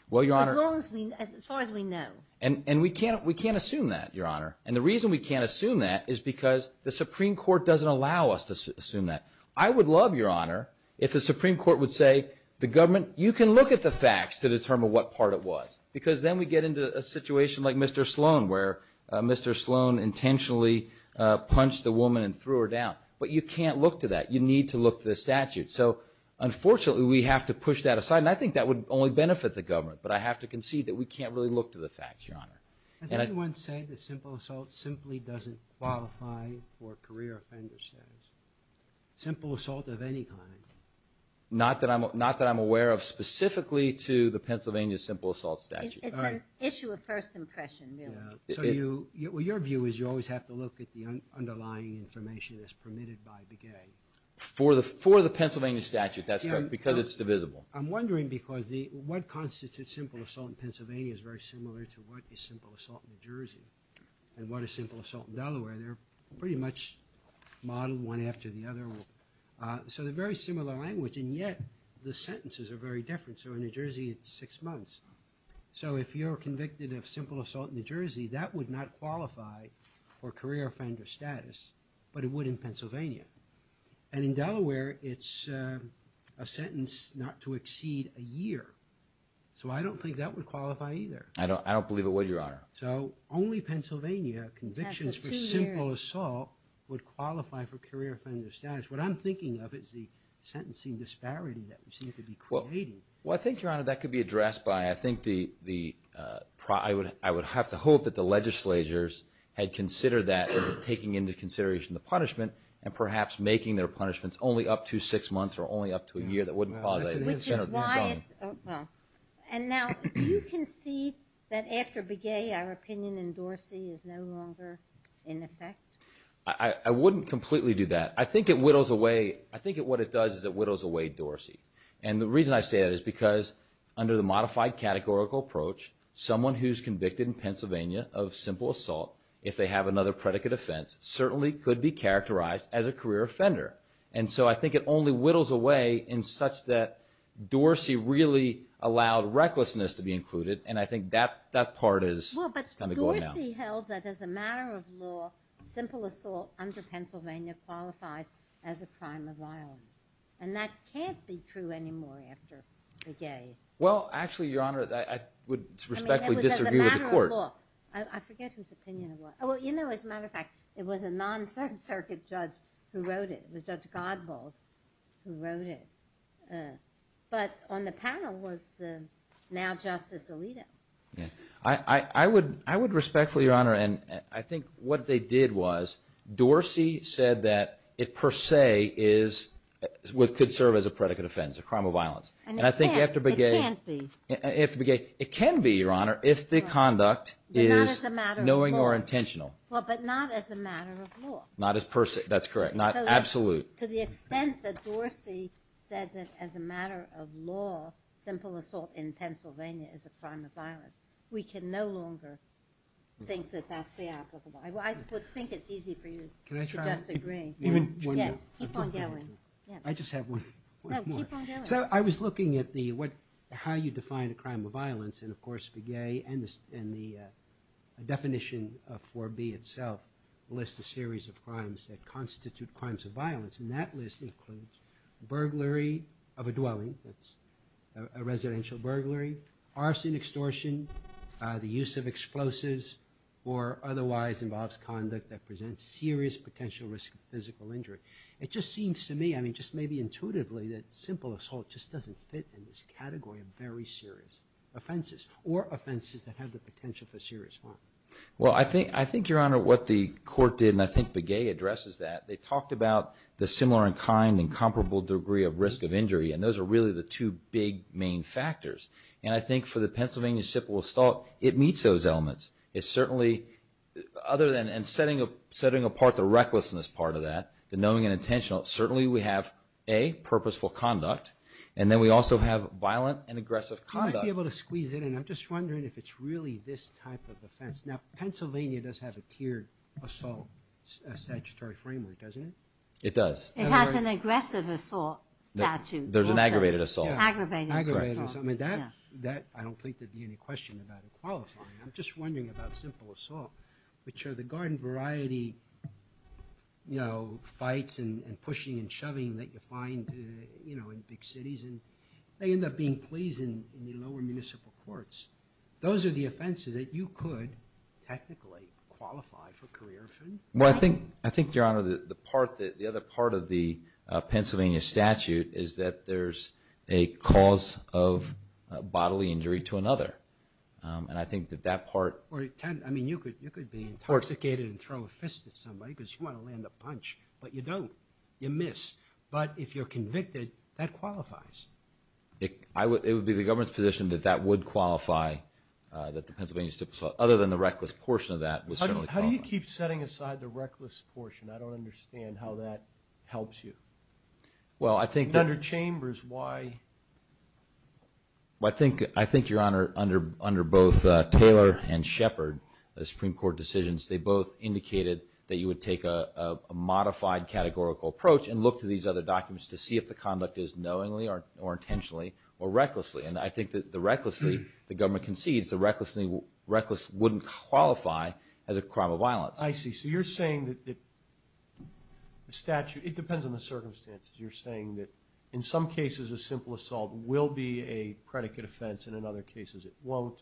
Well, Your Honor. As far as we know. And we can't assume that, Your Honor. And the reason we can't assume that is because the Supreme Court doesn't allow us to assume that. I would love, Your Honor, if the Supreme Court would say, the government, you can look at the facts to determine what part it was. Because then we get into a situation like Mr. Sloan where Mr. Sloan intentionally punched a woman and threw her down. But you can't look to that. You need to look to the statute. So, unfortunately, we have to push that aside. And I think that would only benefit the government. But I have to concede that we can't really look to the facts, Your Honor. Has anyone said that simple assault simply doesn't qualify for career offender status? Simple assault of any kind? Not that I'm aware of specifically to the Pennsylvania simple assault statute. It's an issue of first impression, really. So your view is you always have to look at the underlying information that's permitted by the gang. For the Pennsylvania statute, that's correct. Because it's divisible. I'm wondering because what constitutes simple assault in Pennsylvania is very similar to what is simple assault in New Jersey. And what is simple assault in Delaware? They're pretty much modeled one after the other. So they're very similar language, and yet the sentences are very different. So in New Jersey, it's six months. So if you're convicted of simple assault in New Jersey, that would not qualify for career offender status, but it would in Pennsylvania. And in Delaware, it's a sentence not to exceed a year. So I don't think that would qualify either. I don't believe it would, Your Honor. So only Pennsylvania convictions for simple assault would qualify for career offender status. What I'm thinking of is the sentencing disparity that we seem to be creating. Well, I think, Your Honor, that could be addressed by I think the – I would have to hope that the legislatures had considered that in taking into consideration the punishment and perhaps making their punishments only up to six months or only up to a year. That wouldn't qualify. Which is why it's – And now, do you concede that after Begay, our opinion in Dorsey is no longer in effect? I wouldn't completely do that. I think it whittles away – I think what it does is it whittles away Dorsey. And the reason I say that is because under the modified categorical approach, someone who's convicted in Pennsylvania of simple assault, if they have another predicate offense, certainly could be characterized as a career offender. And so I think it only whittles away in such that Dorsey really allowed recklessness to be included. And I think that part is kind of going down. Well, but Dorsey held that as a matter of law, simple assault under Pennsylvania qualifies as a crime of violence. And that can't be true anymore after Begay. Well, actually, Your Honor, I would respectfully disagree with the court. I mean, that was as a matter of law. I forget whose opinion it was. Well, you know, as a matter of fact, it was a non-Third Circuit judge who wrote it. It was Judge Godbold who wrote it. But on the panel was now Justice Alito. I would respectfully, Your Honor, and I think what they did was Dorsey said that it per se could serve as a predicate offense, a crime of violence. And it can't be. Your Honor, if the conduct is knowing or intentional. Well, but not as a matter of law. Not as per se. That's correct. Not absolute. To the extent that Dorsey said that as a matter of law, simple assault in Pennsylvania is a crime of violence, we can no longer think that that's the applicable. I would think it's easy for you to disagree. Keep on going. I just have one more. So I was looking at how you define a crime of violence. And, of course, Begay and the definition of 4B itself lists a series of crimes that constitute crimes of violence. And that list includes burglary of a dwelling, that's a residential burglary, arson extortion, the use of explosives, or otherwise involves conduct that presents serious potential risk of physical injury. It just seems to me, just maybe intuitively, that simple assault just doesn't fit in this category of very serious offenses or offenses that have the potential for serious harm. Well, I think, Your Honor, what the court did, and I think Begay addresses that, they talked about the similar in kind and comparable degree of risk of injury. And those are really the two big main factors. And I think for the Pennsylvania simple assault, it meets those elements. It certainly, other than setting apart the recklessness part of that, the knowing and intentional, certainly we have, A, purposeful conduct, and then we also have violent and aggressive conduct. You might be able to squeeze in, and I'm just wondering if it's really this type of offense. Now, Pennsylvania does have a tiered assault statutory framework, doesn't it? It does. It has an aggressive assault statute also. There's an aggravated assault. Aggravated assault. I mean, that I don't think there'd be any question about it qualifying. I'm just wondering about simple assault, which are the garden variety, you know, fights and pushing and shoving that you find, you know, in big cities. And they end up being pleased in the lower municipal courts. Those are the offenses that you could technically qualify for career. Well, I think, Your Honor, the other part of the Pennsylvania statute is that there's a cause of bodily injury to another. And I think that that part. Or, I mean, you could be intoxicated and throw a fist at somebody because you want to land a punch, but you don't. You miss. But if you're convicted, that qualifies. It would be the government's position that that would qualify, that the Pennsylvania stipulated, other than the reckless portion of that would certainly qualify. How do you keep setting aside the reckless portion? I don't understand how that helps you. Under Chambers, why? Well, I think, Your Honor, under both Taylor and Shepard, the Supreme Court decisions, they both indicated that you would take a modified categorical approach and look to these other documents to see if the conduct is knowingly or intentionally or recklessly. And I think that the recklessly the government concedes, the reckless wouldn't qualify as a crime of violence. I see. So you're saying that the statute, it depends on the circumstances, you're saying that in some cases a simple assault will be a predicate offense and in other cases it won't,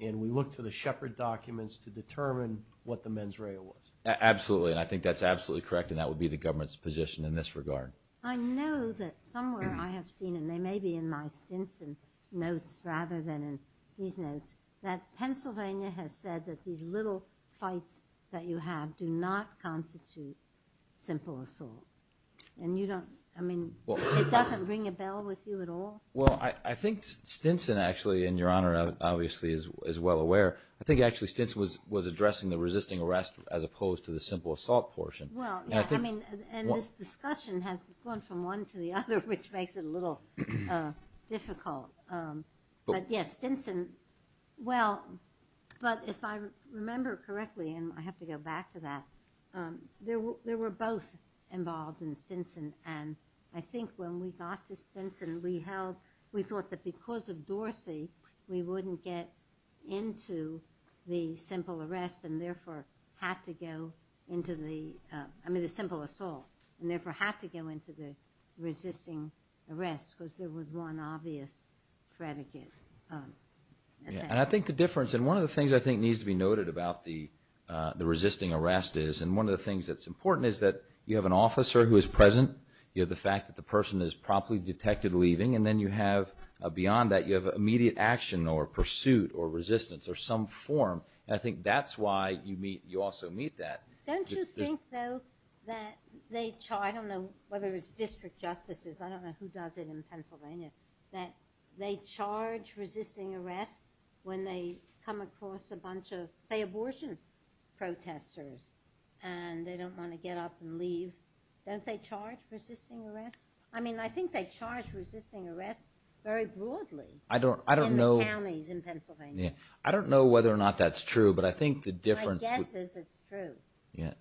and we look to the Shepard documents to determine what the mens rea was. Absolutely, and I think that's absolutely correct, and that would be the government's position in this regard. I know that somewhere I have seen, and they may be in my Stinson notes rather than in these notes, that Pennsylvania has said that these little fights that you have do not constitute simple assault. And you don't, I mean, it doesn't ring a bell with you at all? Well, I think Stinson actually, and Your Honor obviously is well aware, I think actually Stinson was addressing the resisting arrest as opposed to the simple assault portion. Well, yeah, I mean, and this discussion has gone from one to the other, which makes it a little difficult. But yes, Stinson, well, but if I remember correctly, and I have to go back to that, there were both involved in Stinson, and I think when we got to Stinson we thought that because of Dorsey we wouldn't get into the simple arrest and therefore had to go into the, I mean the simple assault, and therefore had to go into the resisting arrest because there was one obvious predicate. And I think the difference, and one of the things I think needs to be noted about the resisting arrest is, and one of the things that's important is that you have an officer who is present, you have the fact that the person is promptly detected leaving, and then you have beyond that you have immediate action or pursuit or resistance or some form. And I think that's why you also meet that. Don't you think, though, that they charge, I don't know whether it's district justices, I don't know who does it in Pennsylvania, that they charge resisting arrest when they come across a bunch of, say, abortion protesters and they don't want to get up and leave? Don't they charge resisting arrest? I mean I think they charge resisting arrest very broadly in the counties in Pennsylvania. I don't know whether or not that's true, but I think the difference. My guess is it's true.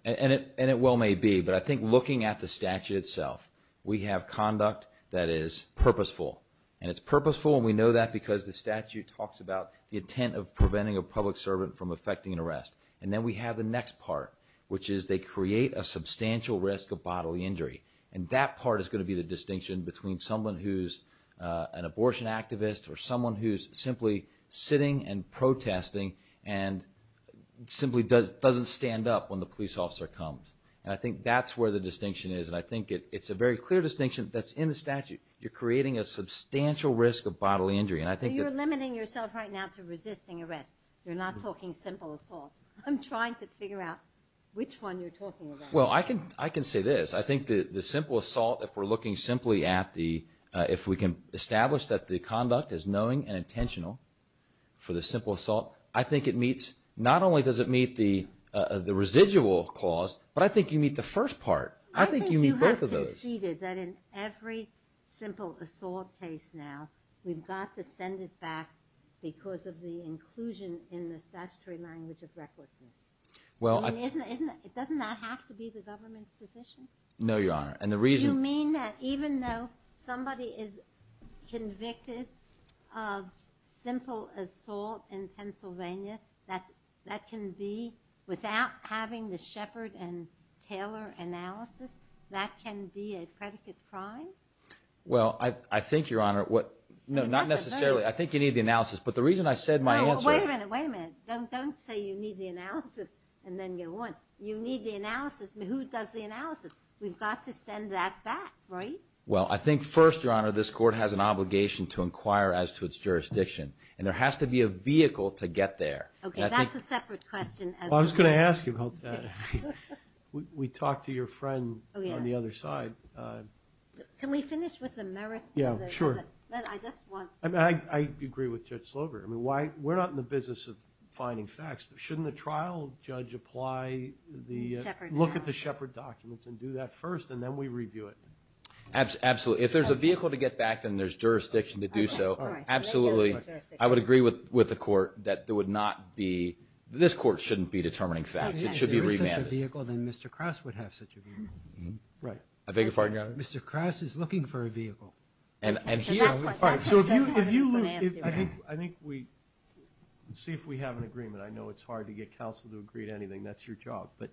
And it well may be, but I think looking at the statute itself we have conduct that is purposeful. And it's purposeful, and we know that because the statute talks about the intent of preventing a public servant from effecting an arrest. And then we have the next part, which is they create a substantial risk of bodily injury. And that part is going to be the distinction between someone who's an abortion activist or someone who's simply sitting and protesting and simply doesn't stand up when the police officer comes. And I think that's where the distinction is, and I think it's a very clear distinction that's in the statute. You're creating a substantial risk of bodily injury. So you're limiting yourself right now to resisting arrest. You're not talking simple assault. I'm trying to figure out which one you're talking about. Well, I can say this. I think the simple assault, if we're looking simply at the if we can establish that the conduct is knowing and intentional for the simple assault, I think it meets not only does it meet the residual clause, but I think you meet the first part. I think you meet both of those. I think you have conceded that in every simple assault case now, we've got to send it back because of the inclusion in the statutory language of recklessness. I mean, doesn't that have to be the government's position? No, Your Honor, and the reason... You mean that even though somebody is convicted of simple assault in Pennsylvania, that can be without having the Shepard and Taylor analysis, that can be a predicate crime? Well, I think, Your Honor, what... No, not necessarily. I think you need the analysis. But the reason I said my answer... No, wait a minute, wait a minute. Don't say you need the analysis and then go on. You need the analysis, but who does the analysis? We've got to send that back, right? Well, I think first, Your Honor, this court has an obligation to inquire as to its jurisdiction, and there has to be a vehicle to get there. Okay, that's a separate question. I was going to ask you about that. We talked to your friend on the other side. Can we finish with the merits of it? Yeah, sure. I just want... I agree with Judge Slover. We're not in the business of finding facts. Shouldn't the trial judge apply the... Look at the Shepard documents and do that first, and then we review it? Absolutely. If there's a vehicle to get back, then there's jurisdiction to do so. Absolutely. I would agree with the court that there would not be... This court shouldn't be determining facts. It should be remanded. If there is such a vehicle, then Mr. Krause would have such a vehicle. Right. I beg your pardon, Your Honor? Mr. Krause is looking for a vehicle. So if you lose... I think we... Let's see if we have an agreement. I know it's hard to get counsel to agree to anything. That's your job. But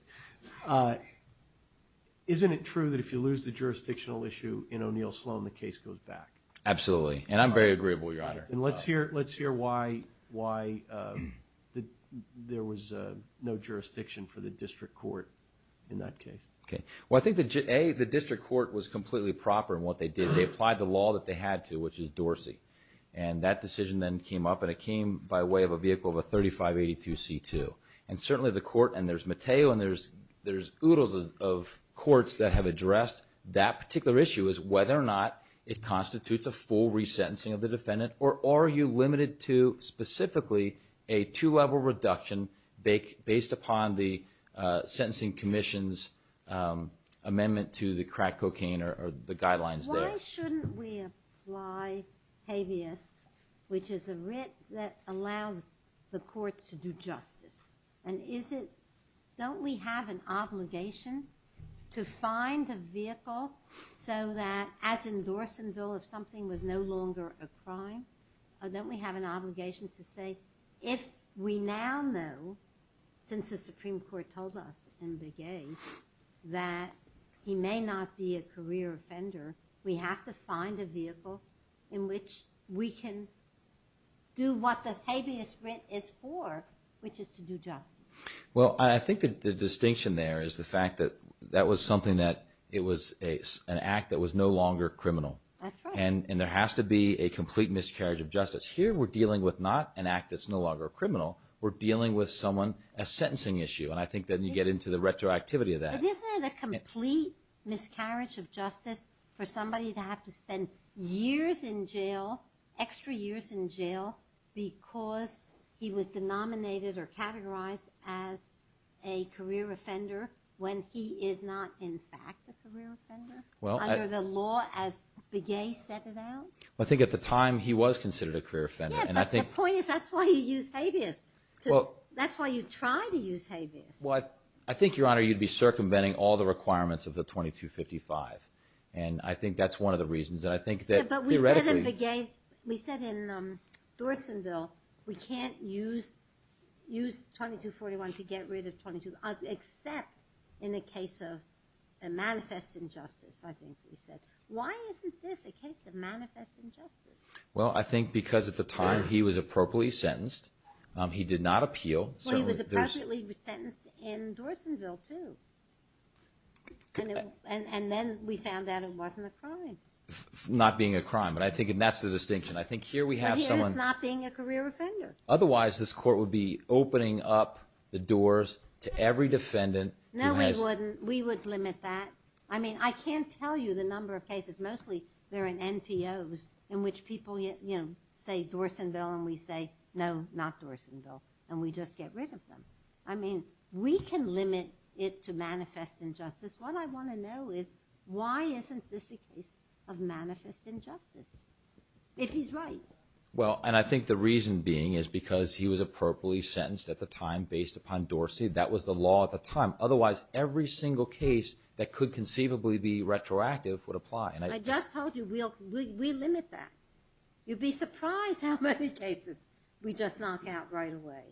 isn't it true that if you lose the jurisdictional issue in O'Neill Sloan, the case goes back? Absolutely. And I'm very agreeable, Your Honor. And let's hear why there was no jurisdiction for the district court in that case. Okay. Well, I think that, A, the district court was completely proper in what they did. They applied the law that they had to, which is Dorsey. And that decision then came up, and it came by way of a vehicle of a 3582C2. And certainly the court... And there's Matteo, and there's oodles of courts that have addressed that particular issue, as whether or not it constitutes a full resentencing of the defendant, or are you limited to specifically a two-level reduction based upon the sentencing commission's amendment to the crack cocaine or the guidelines there? Why shouldn't we apply habeas, which is a writ that allows the courts to do justice? And is it... Don't we have an obligation to find a vehicle so that, as in Dorsonville, if something was no longer a crime, don't we have an obligation to say, if we now know, since the Supreme Court told us in the case, that he may not be a career offender, we have to find a vehicle in which we can do what the habeas writ is for, which is to do justice? Well, I think that the distinction there is the fact that that was something that... It was an act that was no longer criminal. That's right. And there has to be a complete miscarriage of justice. Here, we're dealing with not an act that's no longer criminal. We're dealing with someone, a sentencing issue, and I think that you get into the retroactivity of that. But isn't it a complete miscarriage of justice for somebody to have to spend years in jail, extra years in jail, because he was denominated or categorized as a career offender when he is not in fact a career offender, under the law as Begay set it out? I think at the time, he was considered a career offender. Yeah, but the point is, that's why you use habeas. That's why you try to use habeas. Well, I think, Your Honor, you'd be circumventing all the requirements of the 2255, and I think that's one of the reasons, and I think that theoretically... Yeah, but we said in Begay, we said in Dorsonville, we can't use 2241 to get rid of 22, except in the case of a manifest injustice, I think we said. Why isn't this a case of manifest injustice? Well, I think because at the time, he was appropriately sentenced. He did not appeal. Well, he was appropriately sentenced in Dorsonville, too. And then we found out it wasn't a crime. Not being a crime, but I think that's the distinction. I think here we have someone... Here it's not being a career offender. Otherwise, this court would be opening up the doors to every defendant who has... No, we wouldn't. We would limit that. I mean, I can't tell you the number of cases, mostly they're in NPOs, in which people, you know, say Dorsonville, and we say, no, not Dorsonville, and we just get rid of them. I mean, we can limit it to manifest injustice. What I want to know is, why isn't this a case of manifest injustice? If he's right. Well, and I think the reason being is because he was appropriately sentenced at the time based upon Dorsey. That was the law at the time. Otherwise, every single case that could conceivably be retroactive would apply. I just told you, we limit that. You'd be surprised how many cases we just knock out right away.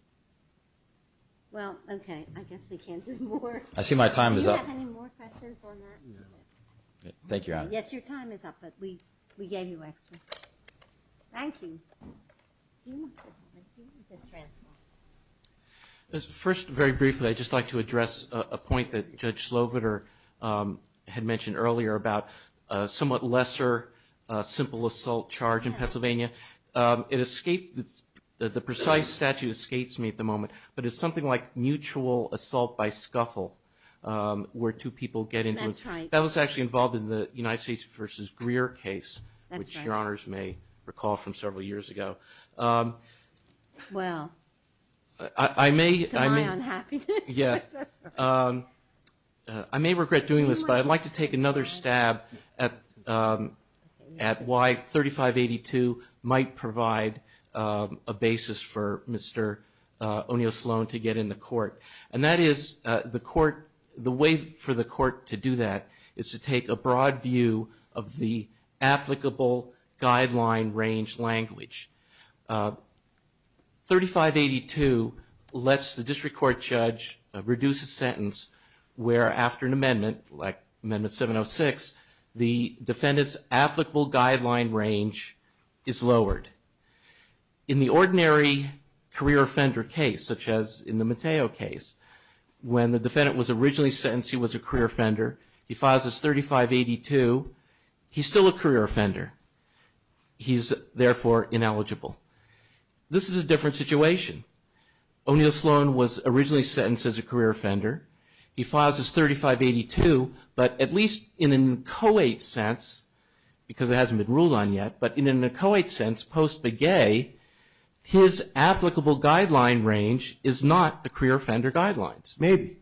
Well, okay, I guess we can't do more. I see my time is up. Do you have any more questions on that? Thank you, Your Honor. Yes, your time is up, but we gave you extra. Thank you. First, very briefly, I'd just like to address a point that Judge Sloviter had mentioned earlier about a somewhat lesser simple assault charge in Pennsylvania. It escaped, the precise statute escapes me at the moment, but it's something like mutual assault by scuffle where two people get into, that was actually involved in the United States versus Greer case, which Your Honors may recall from several years ago. Well, to my unhappiness. Yes, I may regret doing this, but I'd like to take another stab at why 3582 might provide a basis for Mr. O'Neill Sloan to get in the court. And that is the way for the court to do that is to take a broad view of the applicable guideline range language. 3582 lets the district court judge reduce a sentence where after an amendment, like Amendment 706, the defendant's applicable guideline range is lowered. In the ordinary career offender case, such as in the Mateo case, when the defendant was originally sentenced, he was a career offender, he files as 3582, he's still a career offender. He's therefore ineligible. This is a different situation. O'Neill Sloan was originally sentenced as a career offender. He files as 3582, but at least in a co-ed sense, because it hasn't been ruled on yet, but in a co-ed sense post-begay, his applicable guideline range is not the career offender guidelines. Maybe.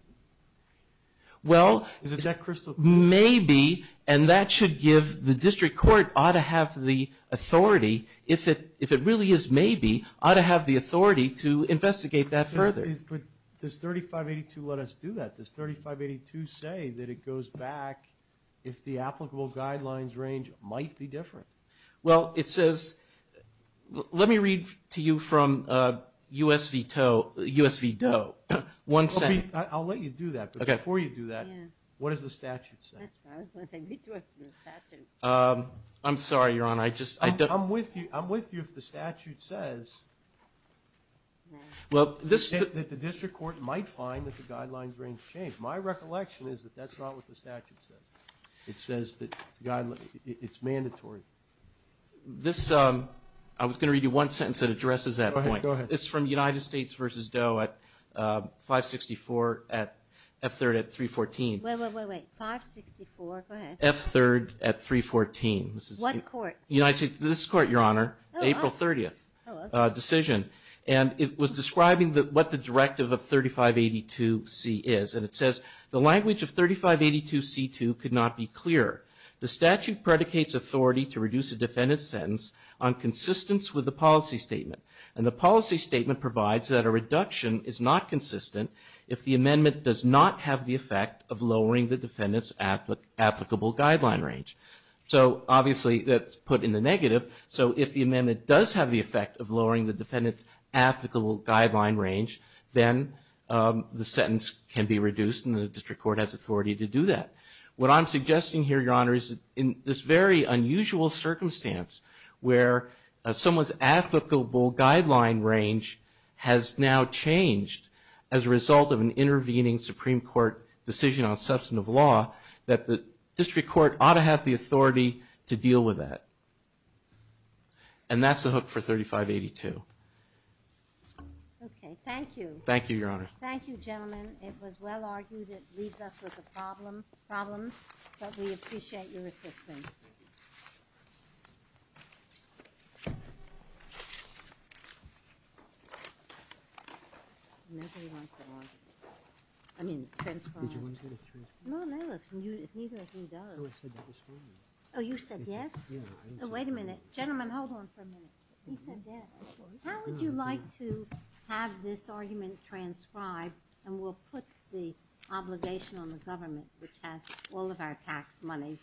Well... Is it that crystal clear? Maybe, and that should give, the district court ought to have the authority, if it really is maybe, ought to have the authority to investigate that further. But does 3582 let us do that? Does 3582 say that it goes back if the applicable guidelines range might be different? Well, it says... Let me read to you from U.S. v. Doe. One second. I'll let you do that, but before you do that, what does the statute say? I was going to say, read to us from the statute. I'm sorry, Your Honor, I just... I'm with you if the statute says that the district court might find that the guidelines range changed. My recollection is that that's not what the statute says. It says that guidelines... It's mandatory. This... I was going to read you one sentence that addresses that point. Go ahead. It's from United States v. Doe at 564 at... F3rd at 314. Wait, wait, wait, wait. 564, go ahead. F3rd at 314. What court? United States... This court, Your Honor. April 30th decision. And it was describing what the directive of 3582C is, and it says, the language of 3582C2 could not be clearer. The statute predicates authority to reduce a defendant's sentence on consistence with the policy statement, and the policy statement provides that a reduction is not consistent if the amendment does not have the effect of lowering the defendant's applicable guideline range. So, obviously, that's put in the negative, so if the amendment does have the effect of lowering the defendant's applicable guideline range, then the sentence can be reduced and the district court has authority to do that. What I'm suggesting here, Your Honor, is in this very unusual circumstance where someone's applicable guideline range has now changed as a result of an intervening Supreme Court decision on substantive law, that the district court ought to have the authority to deal with that. And that's the hook for 3582. Okay, thank you. Thank you, Your Honor. Thank you, gentlemen. It was well-argued. It leaves us with a problem, but we appreciate your assistance. Oh, you said yes? Wait a minute. Gentlemen, hold on for a minute. He said yes. How would you like to have this argument transcribed, and we'll put the obligation on the government, which has all of our tax money.